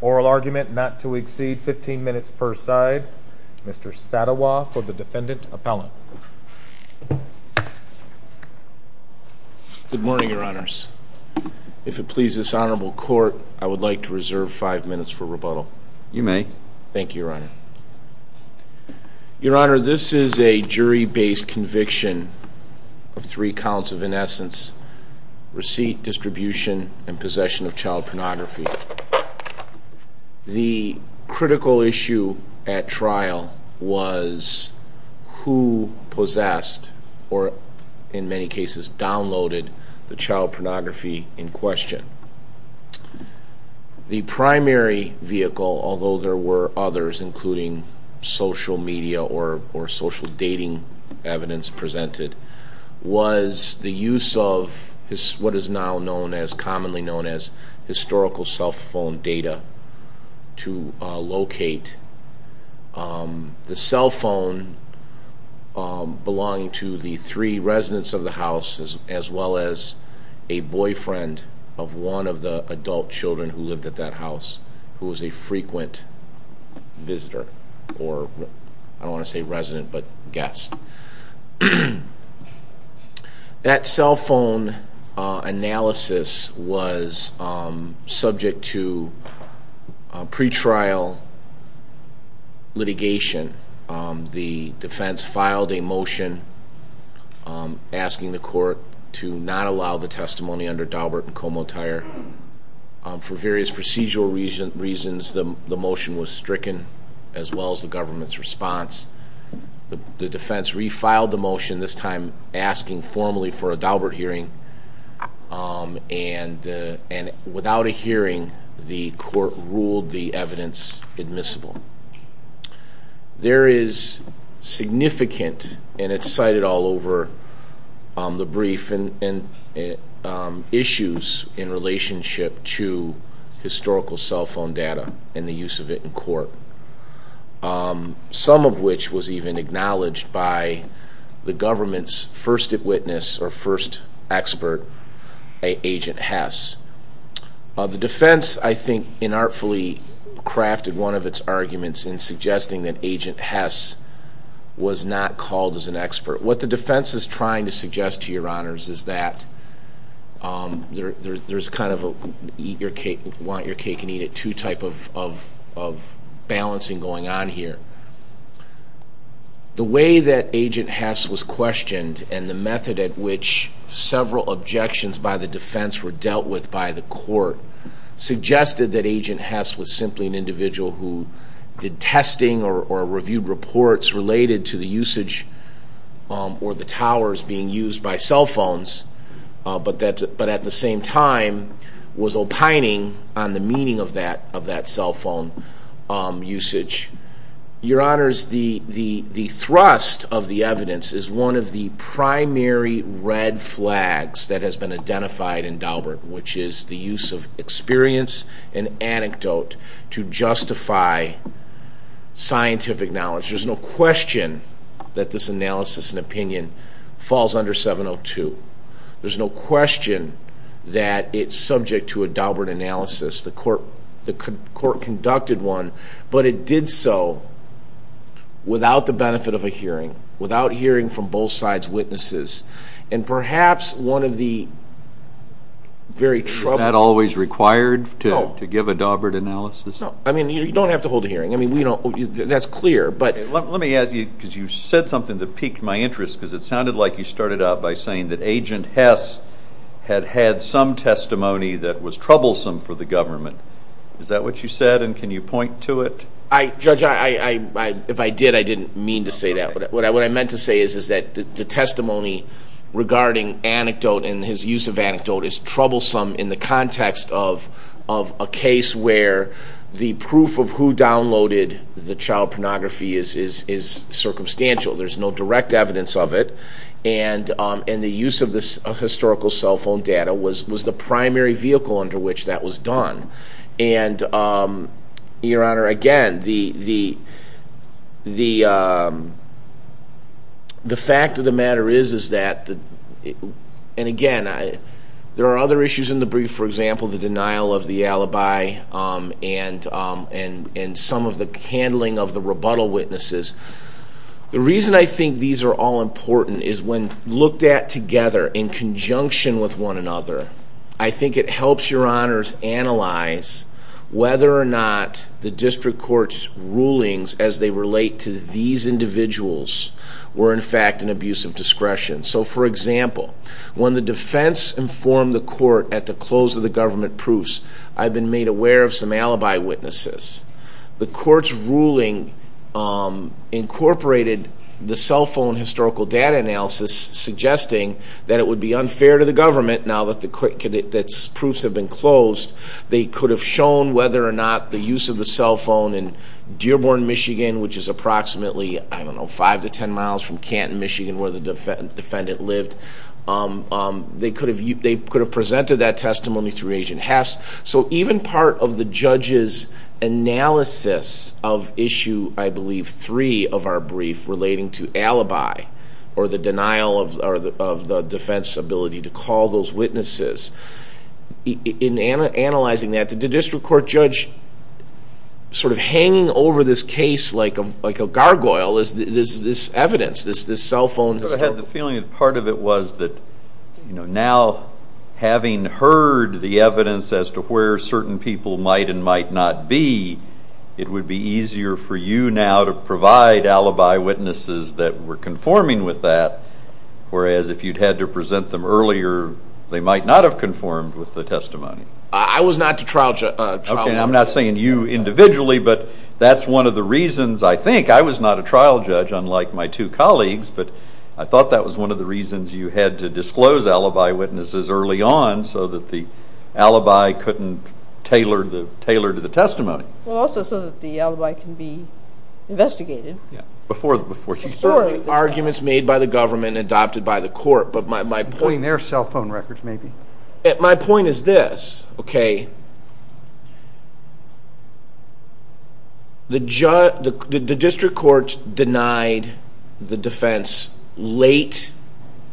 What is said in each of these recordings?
Oral argument not to exceed 15 minutes per side. Mr. Sadawa for the Defendant Appellant. Good morning, Your Honors. If it pleases this honorable court, I would like to reserve five minutes for rebuttal. You may. Thank you, Your Honor. Your Honor, this is a jury-based case. This is a conviction of three counts of innocence, receipt, distribution, and possession of child pornography. The critical issue at trial was who possessed or, in many cases, downloaded the child pornography in question. The primary vehicle, although there were others including social media or social dating evidence presented, was the use of what is now commonly known as historical cell phone data to locate the cell phone belonging to the three residents of the house as well as a boyfriend of one of the adult children who lived at that house who was a frequent visitor or, I don't want to say resident, but guest. That cell phone analysis was subject to pretrial litigation. The defense filed a motion asking the court to not allow the testimony under Daubert and Comotire. For various procedural reasons, the motion was stricken as well as the government's response. The defense refiled the motion, this time asking formally for a Daubert hearing, and without a hearing, the court ruled the evidence admissible. There is significant, and it's cited all over the brief, issues in relationship to historical cell phone data and the use of it in court, some of which was even acknowledged by the government's first witness or first expert, Agent Hess. The defense, I think, inartfully crafted one of its arguments in suggesting that Agent Hess was not called as an expert. What the defense is trying to suggest to your honors is that there's kind of a want your cake and eat it too type of balancing going on here. The way that Agent Hess was questioned and the method at which several objections by the defense were dealt with by the court suggested that Agent Hess was simply an individual who did testing or reviewed reports related to the usage or the towers being used by cell phones, but at the same time was opining on the meaning of that cell phone usage. Your honors, the thrust of the evidence is one of the primary red flags that has been identified in Daubert, which is the use of experience and anecdote to justify scientific knowledge. There's no question that this analysis and opinion falls under 702. There's no question that it's subject to a Daubert analysis, the court conducted one, but it did so without the benefit of a hearing, without hearing from both sides' witnesses. And perhaps one of the very troubling... Is that always required to give a Daubert analysis? No. I mean, you don't have to hold a hearing. That's clear, but... Let me ask you, because you said something that piqued my interest, because it sounded like you started out by saying that Agent Hess had had some testimony that was troublesome for the government. Is that what you said, and can you point to it? Judge, if I did, I didn't mean to say that. What I meant to say is that the testimony regarding anecdote and his use of anecdote is troublesome in the context of a case where the proof of who downloaded the child pornography is circumstantial. There's no direct evidence of it, and the use of this historical cell phone data was the primary vehicle under which that was done. And, Your Honor, again, the fact of the matter is that, and again, there are other issues in the brief, for example, the denial of the alibi and some of the handling of the rebuttal witnesses. The reason I think these are all important is when looked at together in conjunction with one another, I think it helps Your Honors analyze whether or not the district court's rulings as they relate to these individuals were, in fact, an abuse of discretion. So, for example, when the defense informed the court at the close of the government proofs, I've been made aware of some alibi witnesses. The court's ruling incorporated the cell phone historical data analysis, suggesting that it would be unfair to the government now that the proofs have been closed. They could have shown whether or not the use of the cell phone in Dearborn, Michigan, which is approximately, I don't know, 5 to 10 miles from Canton, Michigan, where the defendant lived. They could have presented that testimony through Agent Hess. So even part of the judge's analysis of issue, I believe, three of our briefs relating to alibi or the denial of the defense's ability to call those witnesses, in analyzing that, the district court judge sort of hanging over this case like a gargoyle is this evidence, this cell phone. I had the feeling that part of it was that now having heard the evidence as to where certain people might and might not be, it would be easier for you now to provide alibi witnesses that were conforming with that, whereas if you'd had to present them earlier, they might not have conformed with the testimony. I was not a trial judge. I'm not saying you individually, but that's one of the reasons, I think. I'm not a trial judge, unlike my two colleagues, but I thought that was one of the reasons you had to disclose alibi witnesses early on so that the alibi couldn't tailor to the testimony. Well, also so that the alibi can be investigated. Yeah. Before he's heard the arguments made by the government and adopted by the court. Including their cell phone records, maybe. My point is this. The district court denied the defense late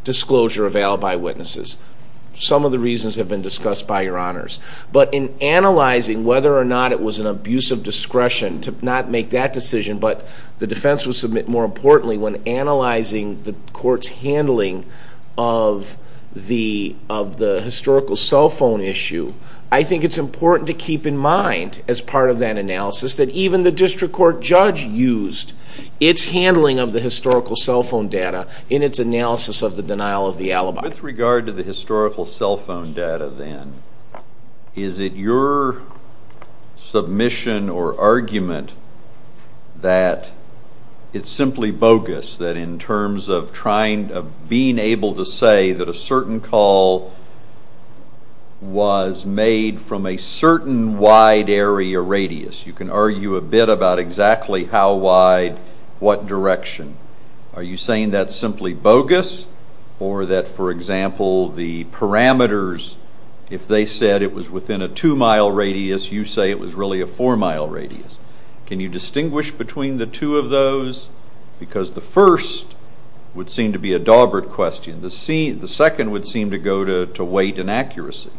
disclosure of alibi witnesses. Some of the reasons have been discussed by your honors. But in analyzing whether or not it was an abuse of discretion to not make that decision, but the defense would submit, more importantly, when analyzing the court's handling of the historical cell phone issue, I think it's important to keep in mind, as part of that analysis, that even the district court judge used its handling of the historical cell phone data in its analysis of the denial of the alibi. With regard to the historical cell phone data then, is it your submission or argument that it's simply bogus, that in terms of being able to say that a certain call was made from a certain wide area radius. You can argue a bit about exactly how wide, what direction. Are you saying that's simply bogus, or that, for example, the parameters, if they said it was within a two-mile radius, you say it was really a four-mile radius. Can you distinguish between the two of those? Because the first would seem to be a daubered question. The second would seem to go to weight and accuracy.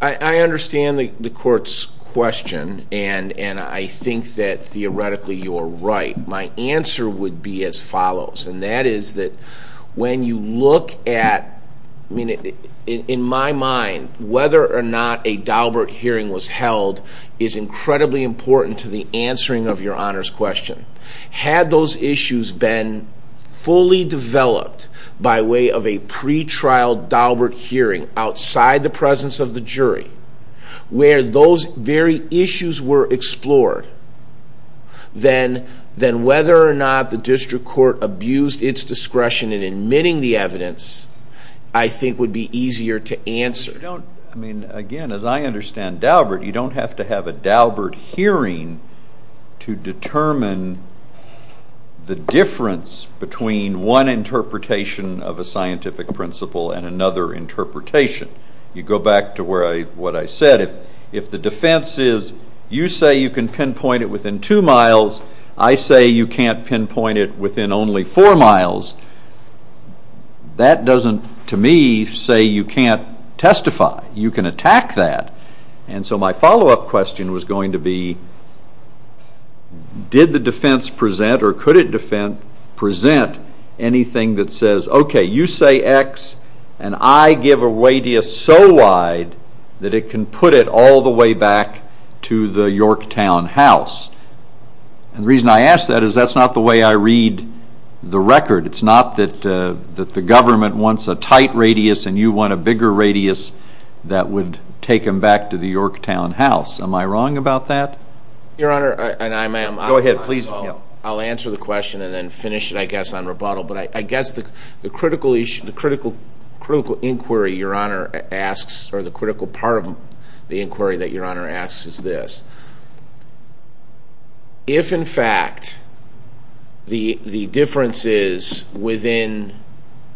I understand the court's question, and I think that, theoretically, you are right. My answer would be as follows. When you look at, in my mind, whether or not a daubered hearing was held is incredibly important to the answering of your honors question. Had those issues been fully developed by way of a pre-trial daubered hearing outside the presence of the jury, where those very issues were explored, then whether or not the district court abused its discretion in admitting the evidence, I think would be easier to answer. Again, as I understand daubered, you don't have to have a daubered hearing to determine the difference between one interpretation of a scientific principle and another interpretation. You go back to what I said. If the defense is, you say you can pinpoint it within two miles, I say you can't pinpoint it within only four miles, that doesn't, to me, say you can't testify. You can attack that. So my follow-up question was going to be, did the defense present or could it present anything that says, okay, you say X and I give a radius so wide that it can put it all the way back to the Yorktown house? And the reason I ask that is that's not the way I read the record. It's not that the government wants a tight radius and you want a bigger radius that would take them back to the Yorktown house. Am I wrong about that? Your Honor, I'll answer the question and then finish it, I guess, on rebuttal. But I guess the critical inquiry your Honor asks or the critical part of the inquiry that your Honor asks is this. If, in fact, the differences within,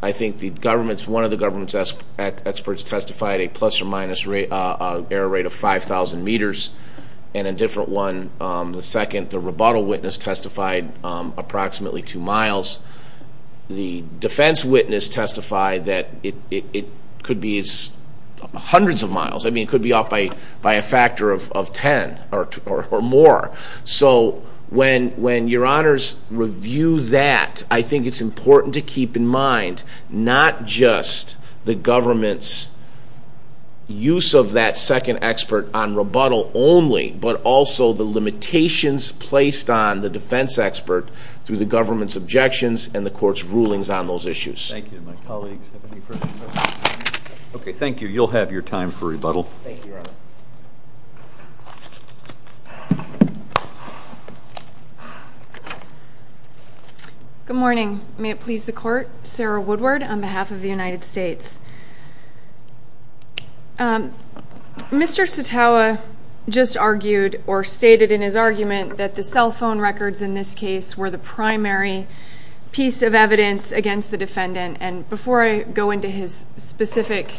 I think, the government's, one of the government's experts testified a plus or minus error rate of 5,000 meters and a different one, the second, the rebuttal witness, testified approximately 2 miles. The defense witness testified that it could be hundreds of miles. I mean, it could be off by a factor of 10 or more. So when your Honors review that, I think it's important to keep in mind not just the government's use of that second expert on rebuttal only, but also the limitations placed on the defense expert through the government's objections and the court's rulings on those issues. Thank you. My colleagues have any further questions? Okay, thank you. You'll have your time for rebuttal. Thank you, Your Honor. Good morning. May it please the Court, Sarah Woodward on behalf of the United States. Mr. Sotawa just argued or stated in his argument that the cell phone records in this case were the primary piece of evidence against the defendant. And before I go into his specific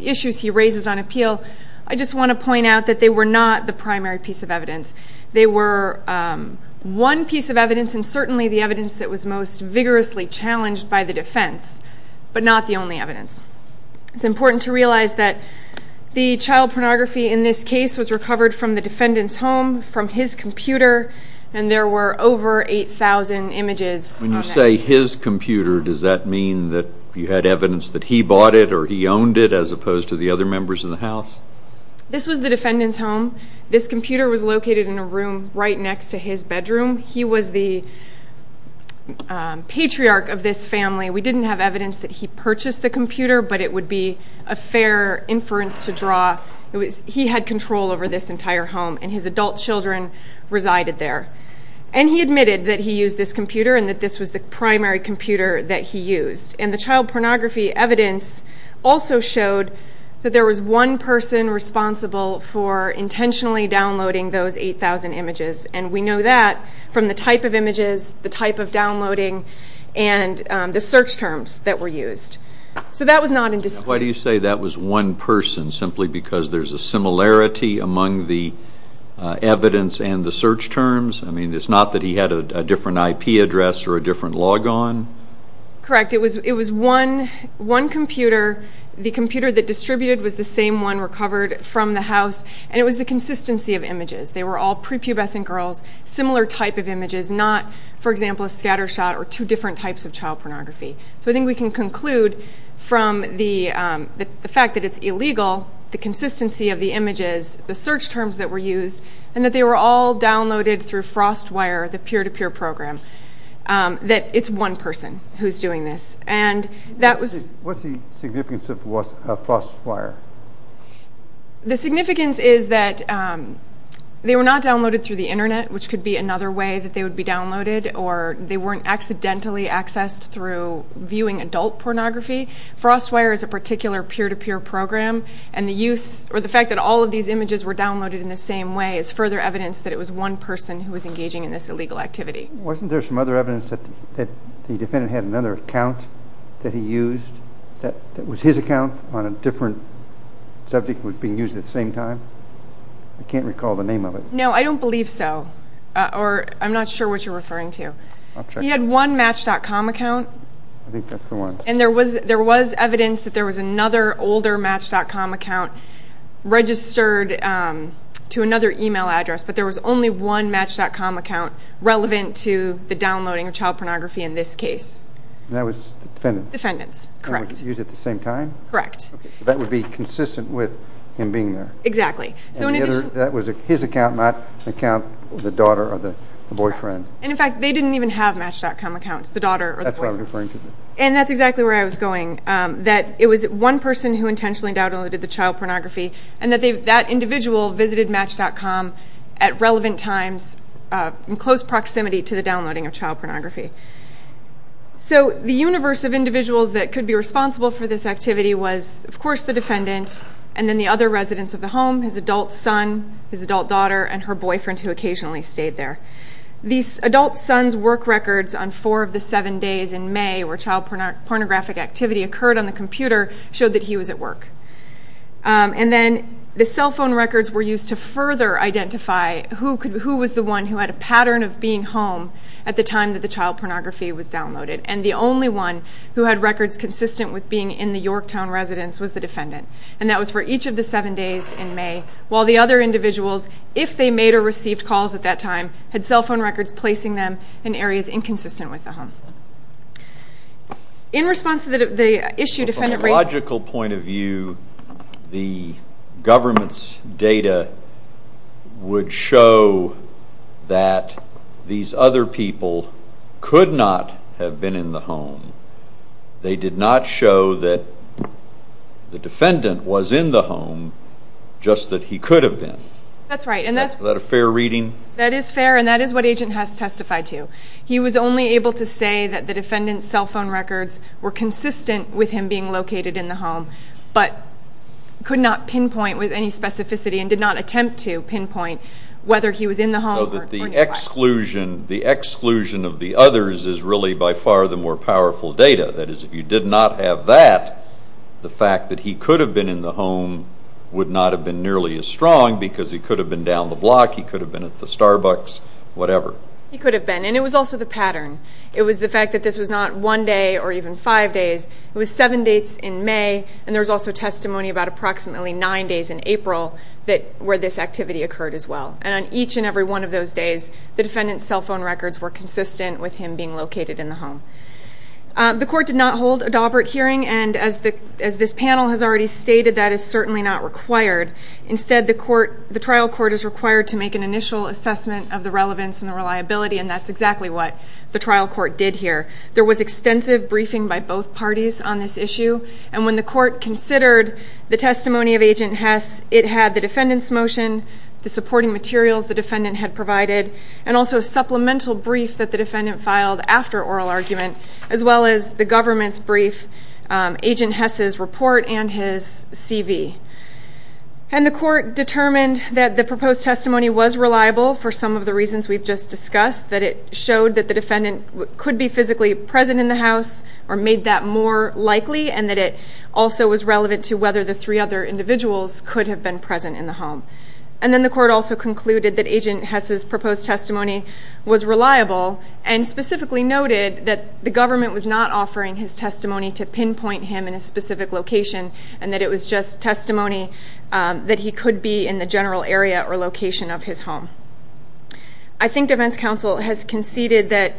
issues he raises on appeal, I just want to point out that they were not the primary piece of evidence. They were one piece of evidence, and certainly the evidence that was most vigorously challenged by the defense, but not the only evidence. It's important to realize that the child pornography in this case was recovered from the defendant's home from his computer, and there were over 8,000 images of it. When you say his computer, does that mean that you had evidence that he bought it or he owned it as opposed to the other members in the House? This was the defendant's home. This computer was located in a room right next to his bedroom. He was the patriarch of this family. We didn't have evidence that he purchased the computer, but it would be a fair inference to draw. He had control over this entire home, and his adult children resided there. And he admitted that he used this computer and that this was the primary computer that he used. And the child pornography evidence also showed that there was one person responsible for intentionally downloading those 8,000 images, and we know that from the type of images, the type of downloading, and the search terms that were used. Why do you say that was one person, simply because there's a similarity among the evidence and the search terms? I mean, it's not that he had a different IP address or a different logon? Correct. It was one computer. The computer that distributed was the same one recovered from the House, and it was the consistency of images. They were all prepubescent girls, similar type of images, not, for example, a scatter shot or two different types of child pornography. So I think we can conclude from the fact that it's illegal, the consistency of the images, the search terms that were used, and that they were all downloaded through FrostWire, the peer-to-peer program, that it's one person who's doing this. What's the significance of FrostWire? The significance is that they were not downloaded through the Internet, which could be another way that they would be downloaded, or they weren't accidentally accessed through viewing adult pornography. FrostWire is a particular peer-to-peer program, and the fact that all of these images were downloaded in the same way is further evidence that it was one person who was engaging in this illegal activity. Wasn't there some other evidence that the defendant had another account that he used that was his account on a different subject that was being used at the same time? I can't recall the name of it. No, I don't believe so, or I'm not sure what you're referring to. He had one Match.com account. I think that's the one. And there was evidence that there was another older Match.com account registered to another email address, but there was only one Match.com account relevant to the downloading of child pornography in this case. And that was the defendant's? Defendant's, correct. And it was used at the same time? Correct. So that would be consistent with him being there? Exactly. And that was his account, not the account of the daughter or the boyfriend? Correct. And, in fact, they didn't even have Match.com accounts, the daughter or the boyfriend. That's what I'm referring to. And that's exactly where I was going, that it was one person who intentionally downloaded the child pornography, and that that individual visited Match.com at relevant times, in close proximity to the downloading of child pornography. So the universe of individuals that could be responsible for this activity was, of course, the defendant, and then the other residents of the home, his adult son, his adult daughter, and her boyfriend, who occasionally stayed there. The adult son's work records on four of the seven days in May where child pornographic activity occurred on the computer showed that he was at work. And then the cell phone records were used to further identify who was the one who had a pattern of being home at the time that the child pornography was downloaded. And the only one who had records consistent with being in the Yorktown residence was the defendant. And that was for each of the seven days in May, while the other individuals, if they made or received calls at that time, had cell phone records placing them in areas inconsistent with the home. In response to the issue defendant raised... From a biological point of view, the government's data would show that these other people could not have been in the home. They did not show that the defendant was in the home, just that he could have been. That's right. Is that a fair reading? That is fair, and that is what Agent Hess testified to. He was only able to say that the defendant's cell phone records were consistent with him being located in the home, but could not pinpoint with any specificity and did not attempt to pinpoint whether he was in the home or not. So that the exclusion of the others is really by far the more powerful data. That is, if you did not have that, the fact that he could have been in the home would not have been nearly as strong because he could have been down the block, he could have been at the Starbucks, whatever. He could have been, and it was also the pattern. It was the fact that this was not one day or even five days. It was seven dates in May, and there was also testimony about approximately nine days in April where this activity occurred as well. And on each and every one of those days, the defendant's cell phone records were consistent with him being located in the home. The court did not hold a Daubert hearing, and as this panel has already stated, that is certainly not required. Instead, the trial court is required to make an initial assessment of the relevance and the reliability, and that's exactly what the trial court did here. There was extensive briefing by both parties on this issue, and when the court considered the testimony of Agent Hess, it had the defendant's motion, the supporting materials the defendant had provided, and also a supplemental brief that the defendant filed after oral argument, as well as the government's brief, Agent Hess's report, and his CV. And the court determined that the proposed testimony was reliable for some of the reasons we've just discussed, that it showed that the defendant could be physically present in the house or made that more likely, and that it also was relevant to whether the three other individuals could have been present in the home. And then the court also concluded that Agent Hess's proposed testimony was reliable and specifically noted that the government was not offering his testimony to pinpoint him in a specific location and that it was just testimony that he could be in the general area or location of his home. I think defense counsel has conceded that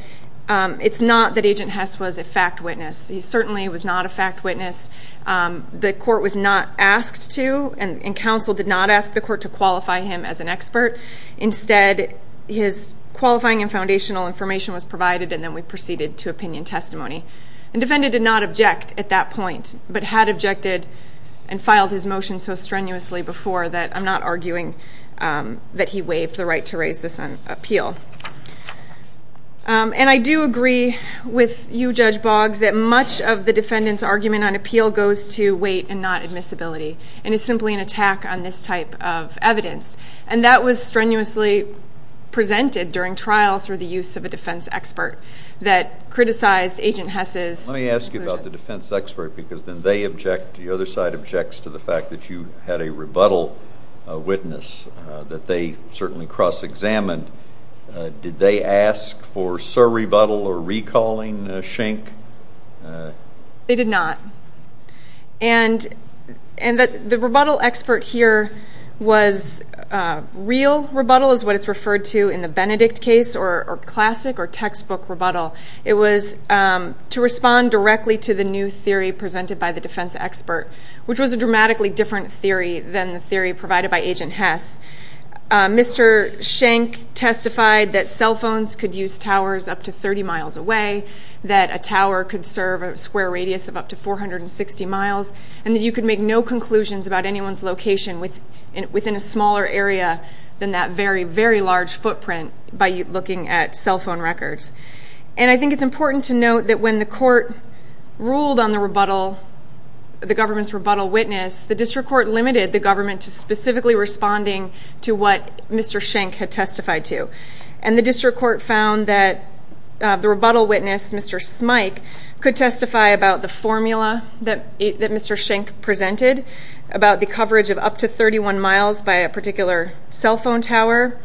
it's not that Agent Hess was a fact witness. He certainly was not a fact witness. The court was not asked to, and counsel did not ask the court to qualify him as an expert. Instead, his qualifying and foundational information was provided, and then we proceeded to opinion testimony. And the defendant did not object at that point, but had objected and filed his motion so strenuously before that I'm not arguing that he waived the right to raise this on appeal. And I do agree with you, Judge Boggs, that much of the defendant's argument on appeal goes to weight and not admissibility and is simply an attack on this type of evidence. And that was strenuously presented during trial through the use of a defense expert that criticized Agent Hess's conclusions. Let me ask you about the defense expert because then they object, the other side objects to the fact that you had a rebuttal witness that they certainly cross-examined. Did they ask for surrebuttal or recalling Schenck? They did not. And the rebuttal expert here was real rebuttal is what it's referred to in the Benedict case, or classic or textbook rebuttal. It was to respond directly to the new theory presented by the defense expert, which was a dramatically different theory than the theory provided by Agent Hess. Mr. Schenck testified that cell phones could use towers up to 30 miles away, that a tower could serve a square radius of up to 460 miles, and that you could make no conclusions about anyone's location within a smaller area than that very, very large footprint by looking at cell phone records. And I think it's important to note that when the court ruled on the government's rebuttal witness, the district court limited the government to specifically responding to what Mr. Schenck had testified to. And the district court found that the rebuttal witness, Mr. Smyk, could testify about the formula that Mr. Schenck presented, about the coverage of up to 31 miles by a particular cell phone tower,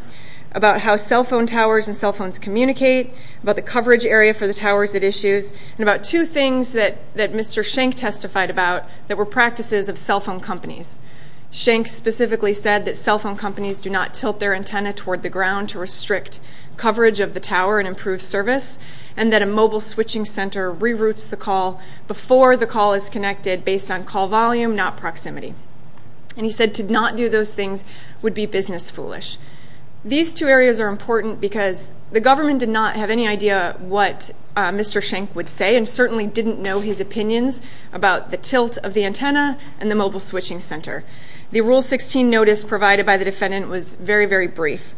about how cell phone towers and cell phones communicate, about the coverage area for the towers it issues, and about two things that Mr. Schenck testified about that were practices of cell phone companies. Schenck specifically said that cell phone companies do not tilt their antenna toward the ground to restrict coverage of the tower and improve service, and that a mobile switching center reroutes the call before the call is connected based on call volume, not proximity. And he said to not do those things would be business foolish. These two areas are important because the government did not have any idea what Mr. Schenck would say and certainly didn't know his opinions about the tilt of the antenna and the mobile switching center. The Rule 16 notice provided by the defendant was very, very brief.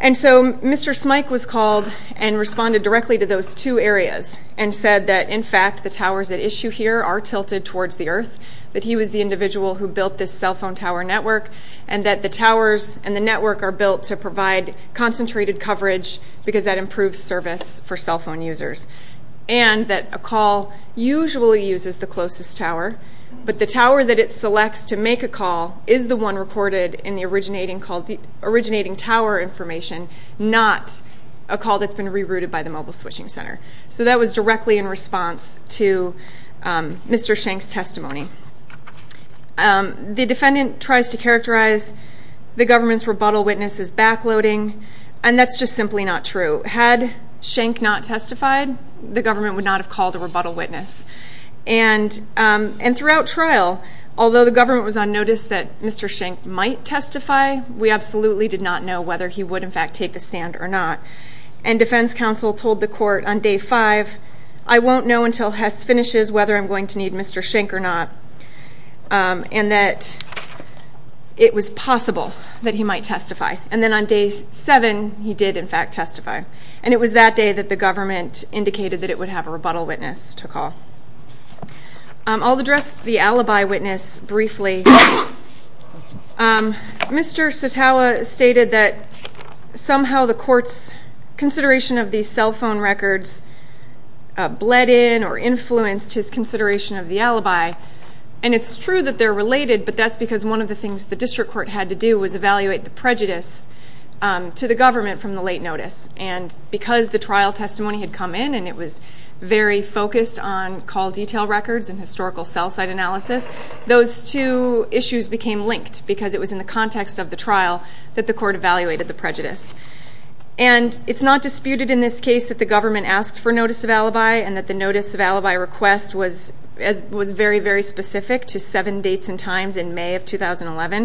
And so Mr. Smyk was called and responded directly to those two areas and said that, in fact, the towers at issue here are tilted towards the earth, that he was the individual who built this cell phone tower network, and that the towers and the network are built to provide concentrated coverage because that improves service for cell phone users, and that a call usually uses the closest tower, but the tower that it selects to make a call is the one recorded in the originating tower information, not a call that's been rerouted by the mobile switching center. So that was directly in response to Mr. Schenck's testimony. The defendant tries to characterize the government's rebuttal witness as backloading, and that's just simply not true. Had Schenck not testified, the government would not have called a rebuttal witness. And throughout trial, although the government was on notice that Mr. Schenck might testify, we absolutely did not know whether he would, in fact, take the stand or not. And defense counsel told the court on day five, I won't know until Hess finishes whether I'm going to need Mr. Schenck or not, and that it was possible that he might testify. And then on day seven, he did, in fact, testify. And it was that day that the government indicated that it would have a rebuttal witness to call. I'll address the alibi witness briefly. Mr. Satawa stated that somehow the court's consideration of these cell phone records bled in or influenced his consideration of the alibi, and it's true that they're related, but that's because one of the things the district court had to do was evaluate the prejudice to the government from the late notice. And because the trial testimony had come in and it was very focused on call detail records and historical cell site analysis, those two issues became linked because it was in the context of the trial that the court evaluated the prejudice. And it's not disputed in this case that the government asked for notice of alibi and that the notice of alibi request was very, very specific to seven dates and times in May of 2011.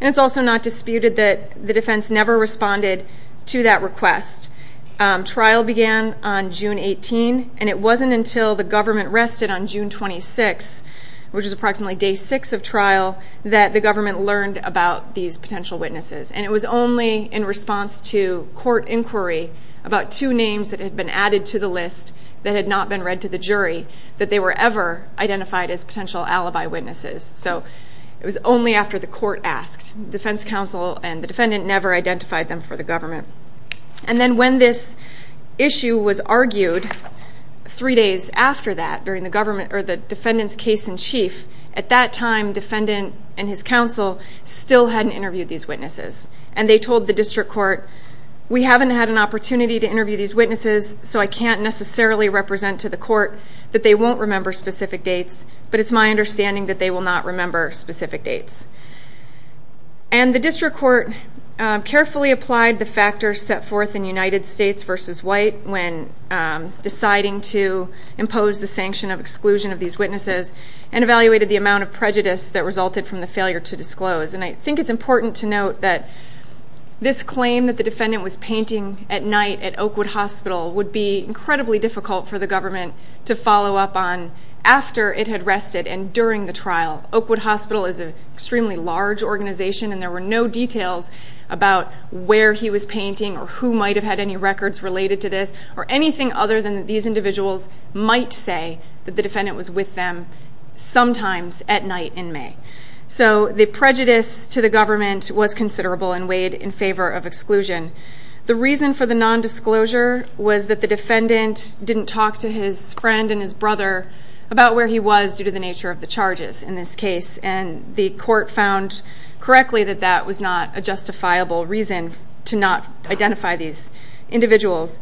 And it's also not disputed that the defense never responded to that request. Trial began on June 18, and it wasn't until the government rested on June 26, which was approximately day six of trial, that the government learned about these potential witnesses. And it was only in response to court inquiry about two names that had been added to the list that had not been read to the jury that they were ever identified as potential alibi witnesses. So it was only after the court asked. The defense counsel and the defendant never identified them for the government. And then when this issue was argued, three days after that, during the defendant's case in chief, at that time, defendant and his counsel still hadn't interviewed these witnesses. And they told the district court, we haven't had an opportunity to interview these witnesses, so I can't necessarily represent to the court that they won't remember specific dates, but it's my understanding that they will not remember specific dates. And the district court carefully applied the factors set forth in United States v. White when deciding to impose the sanction of exclusion of these witnesses and evaluated the amount of prejudice that resulted from the failure to disclose. And I think it's important to note that this claim that the defendant was painting at night at Oakwood Hospital would be incredibly difficult for the government to follow up on after it had rested and during the trial. Oakwood Hospital is an extremely large organization, and there were no details about where he was painting or who might have had any records related to this or anything other than these individuals might say that the defendant was with them sometimes at night in May. So the prejudice to the government was considerable and weighed in favor of exclusion. The reason for the nondisclosure was that the defendant didn't talk to his friend and his brother about where he was due to the nature of the charges in this case. And the court found correctly that that was not a justifiable reason to not identify these individuals.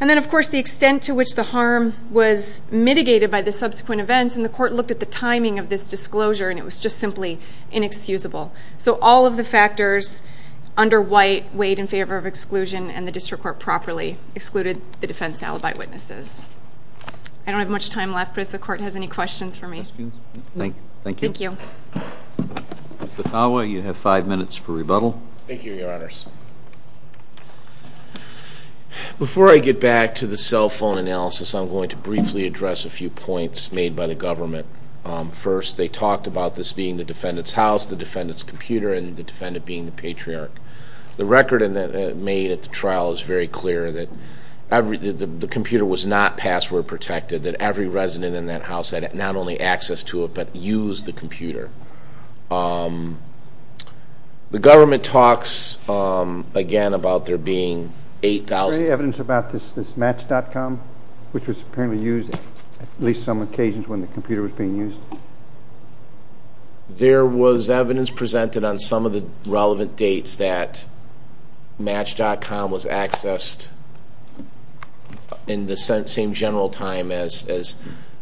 And then, of course, the extent to which the harm was mitigated by the subsequent events, and the court looked at the timing of this disclosure, and it was just simply inexcusable. So all of the factors under White weighed in favor of exclusion, and the district court properly excluded the defense alibi witnesses. I don't have much time left, but if the court has any questions for me. Thank you. Thank you. Mr. Tawa, you have five minutes for rebuttal. Thank you, Your Honors. Before I get back to the cell phone analysis, I'm going to briefly address a few points made by the government. First, they talked about this being the defendant's house, the defendant's computer, and the defendant being the patriarch. The record made at the trial is very clear that the computer was not password protected, that every resident in that house had not only access to it but used the computer. The government talks, again, about there being 8,000. Is there any evidence about this Match.com, which was apparently used at least on some occasions when the computer was being used? There was evidence presented on some of the relevant dates that Match.com was accessed in the same general time as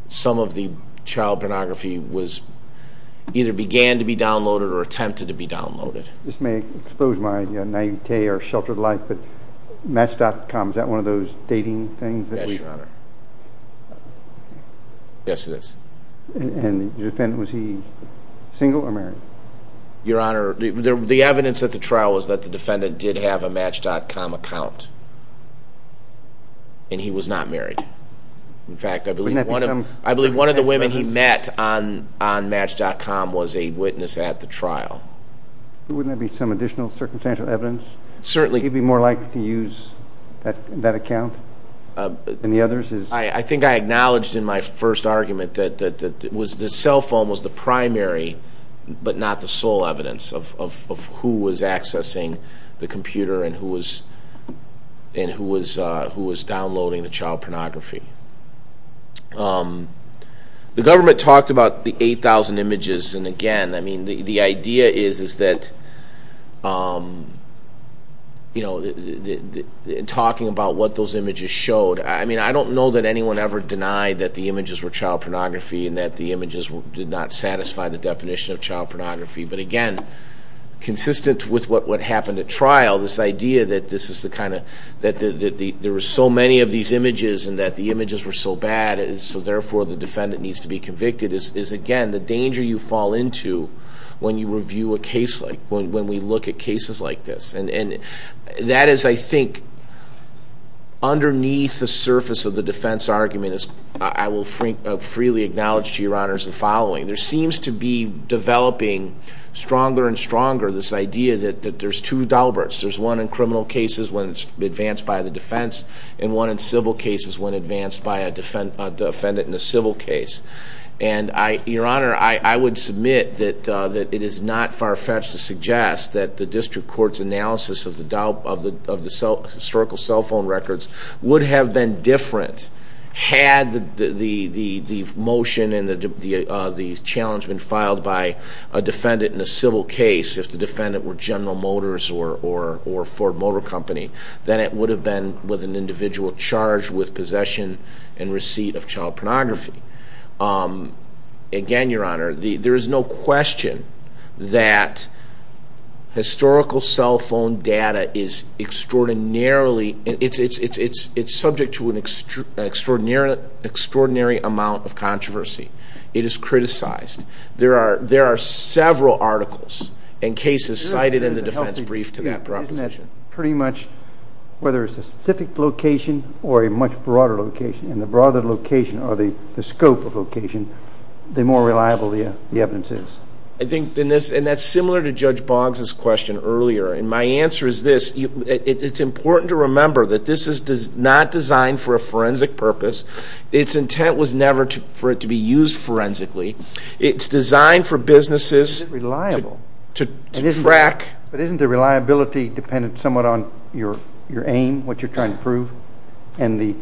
some of the child pornography either began to be downloaded or attempted to be downloaded. This may expose my naivete or sheltered life, but Match.com, is that one of those dating things? Yes, Your Honor. Yes, it is. And the defendant, was he single or married? Your Honor, the evidence at the trial was that the defendant did have a Match.com account, and he was not married. In fact, I believe one of the women he met on Match.com was a witness at the trial. Wouldn't there be some additional circumstantial evidence? Certainly. Would he be more likely to use that account than the others? I think I acknowledged in my first argument that the cell phone was the primary but not the sole evidence of who was accessing the computer and who was downloading the child pornography. The government talked about the 8,000 images, and again, the idea is that in talking about what those images showed, I don't know that anyone ever denied that the images were child pornography and that the images did not satisfy the definition of child pornography. But again, consistent with what happened at trial, this idea that there were so many of these images and that the images were so bad, so therefore the defendant needs to be convicted, is, again, the danger you fall into when we look at cases like this. And that is, I think, underneath the surface of the defense argument, as I will freely acknowledge to Your Honors the following. There seems to be developing stronger and stronger this idea that there's two Dalberts. There's one in criminal cases when it's advanced by the defense and one in civil cases when advanced by a defendant in a civil case. And, Your Honor, I would submit that it is not far-fetched to suggest that the district court's analysis of the historical cell phone records would have been different had the motion and the challenge been filed by a defendant in a civil case, if the defendant were General Motors or Ford Motor Company, than it would have been with an individual charged with possession and receipt of child pornography. Again, Your Honor, there is no question that historical cell phone data is extraordinarily, it's subject to an extraordinary amount of controversy. It is criticized. There are several articles and cases cited in the defense brief to that proposition. Pretty much, whether it's a specific location or a much broader location, and the broader the location or the scope of location, the more reliable the evidence is. I think, and that's similar to Judge Boggs' question earlier. And my answer is this. It's important to remember that this is not designed for a forensic purpose. Its intent was never for it to be used forensically. It's designed for businesses to track. But isn't the reliability dependent somewhat on your aim, what you're trying to prove? And the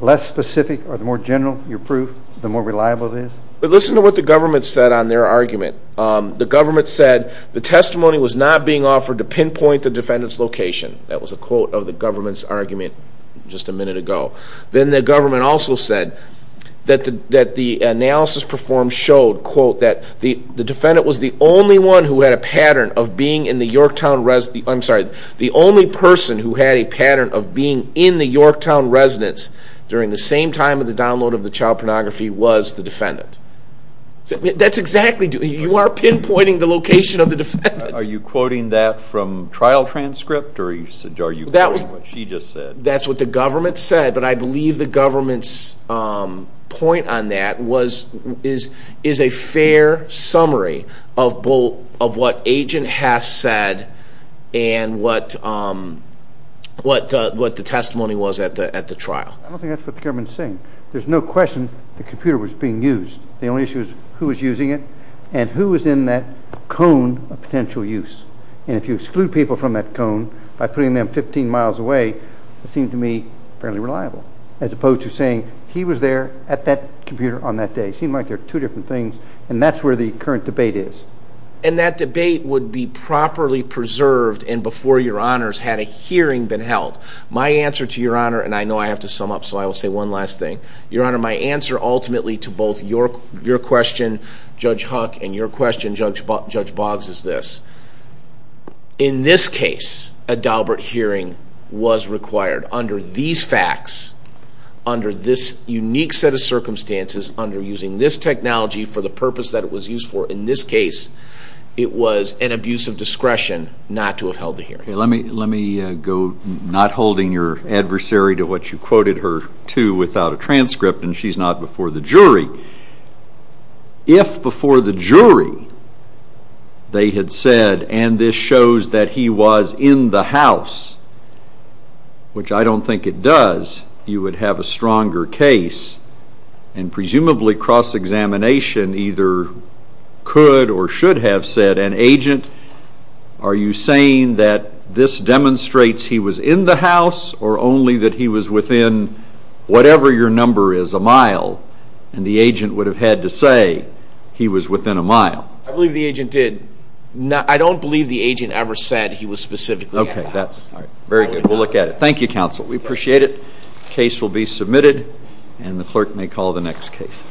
less specific or the more general your proof, the more reliable it is? Listen to what the government said on their argument. The government said the testimony was not being offered to pinpoint the defendant's location. That was a quote of the government's argument just a minute ago. The defendant was the only one who had a pattern of being in the Yorktown residence. I'm sorry. The only person who had a pattern of being in the Yorktown residence during the same time of the download of the child pornography was the defendant. That's exactly true. You are pinpointing the location of the defendant. Are you quoting that from trial transcript? Or are you quoting what she just said? That's what the government said, but I believe the government's point on that is a fair summary of what Agent Hess said and what the testimony was at the trial. I don't think that's what the government is saying. There's no question the computer was being used. The only issue is who was using it and who was in that cone of potential use. And if you exclude people from that cone by putting them 15 miles away, it seemed to me fairly reliable, as opposed to saying he was there at that computer on that day. It seemed like they were two different things, and that's where the current debate is. And that debate would be properly preserved and before Your Honors had a hearing been held. My answer to Your Honor, and I know I have to sum up, so I will say one last thing. Your Honor, my answer ultimately to both your question, Judge Huck, and your question, Judge Boggs, is this. In this case, a Daubert hearing was required. Under these facts, under this unique set of circumstances, under using this technology for the purpose that it was used for, in this case, it was an abuse of discretion not to have held the hearing. Let me go, not holding your adversary to what you quoted her to without a transcript, and she's not before the jury. If before the jury they had said, and this shows that he was in the house, which I don't think it does, you would have a stronger case, and presumably cross-examination either could or should have said, an agent, are you saying that this demonstrates he was in the house or only that he was within whatever your number is, a mile? And the agent would have had to say he was within a mile. I believe the agent did. I don't believe the agent ever said he was specifically in the house. Very good. We'll look at it. Thank you, counsel. We appreciate it. The case will be submitted, and the clerk may call the next case.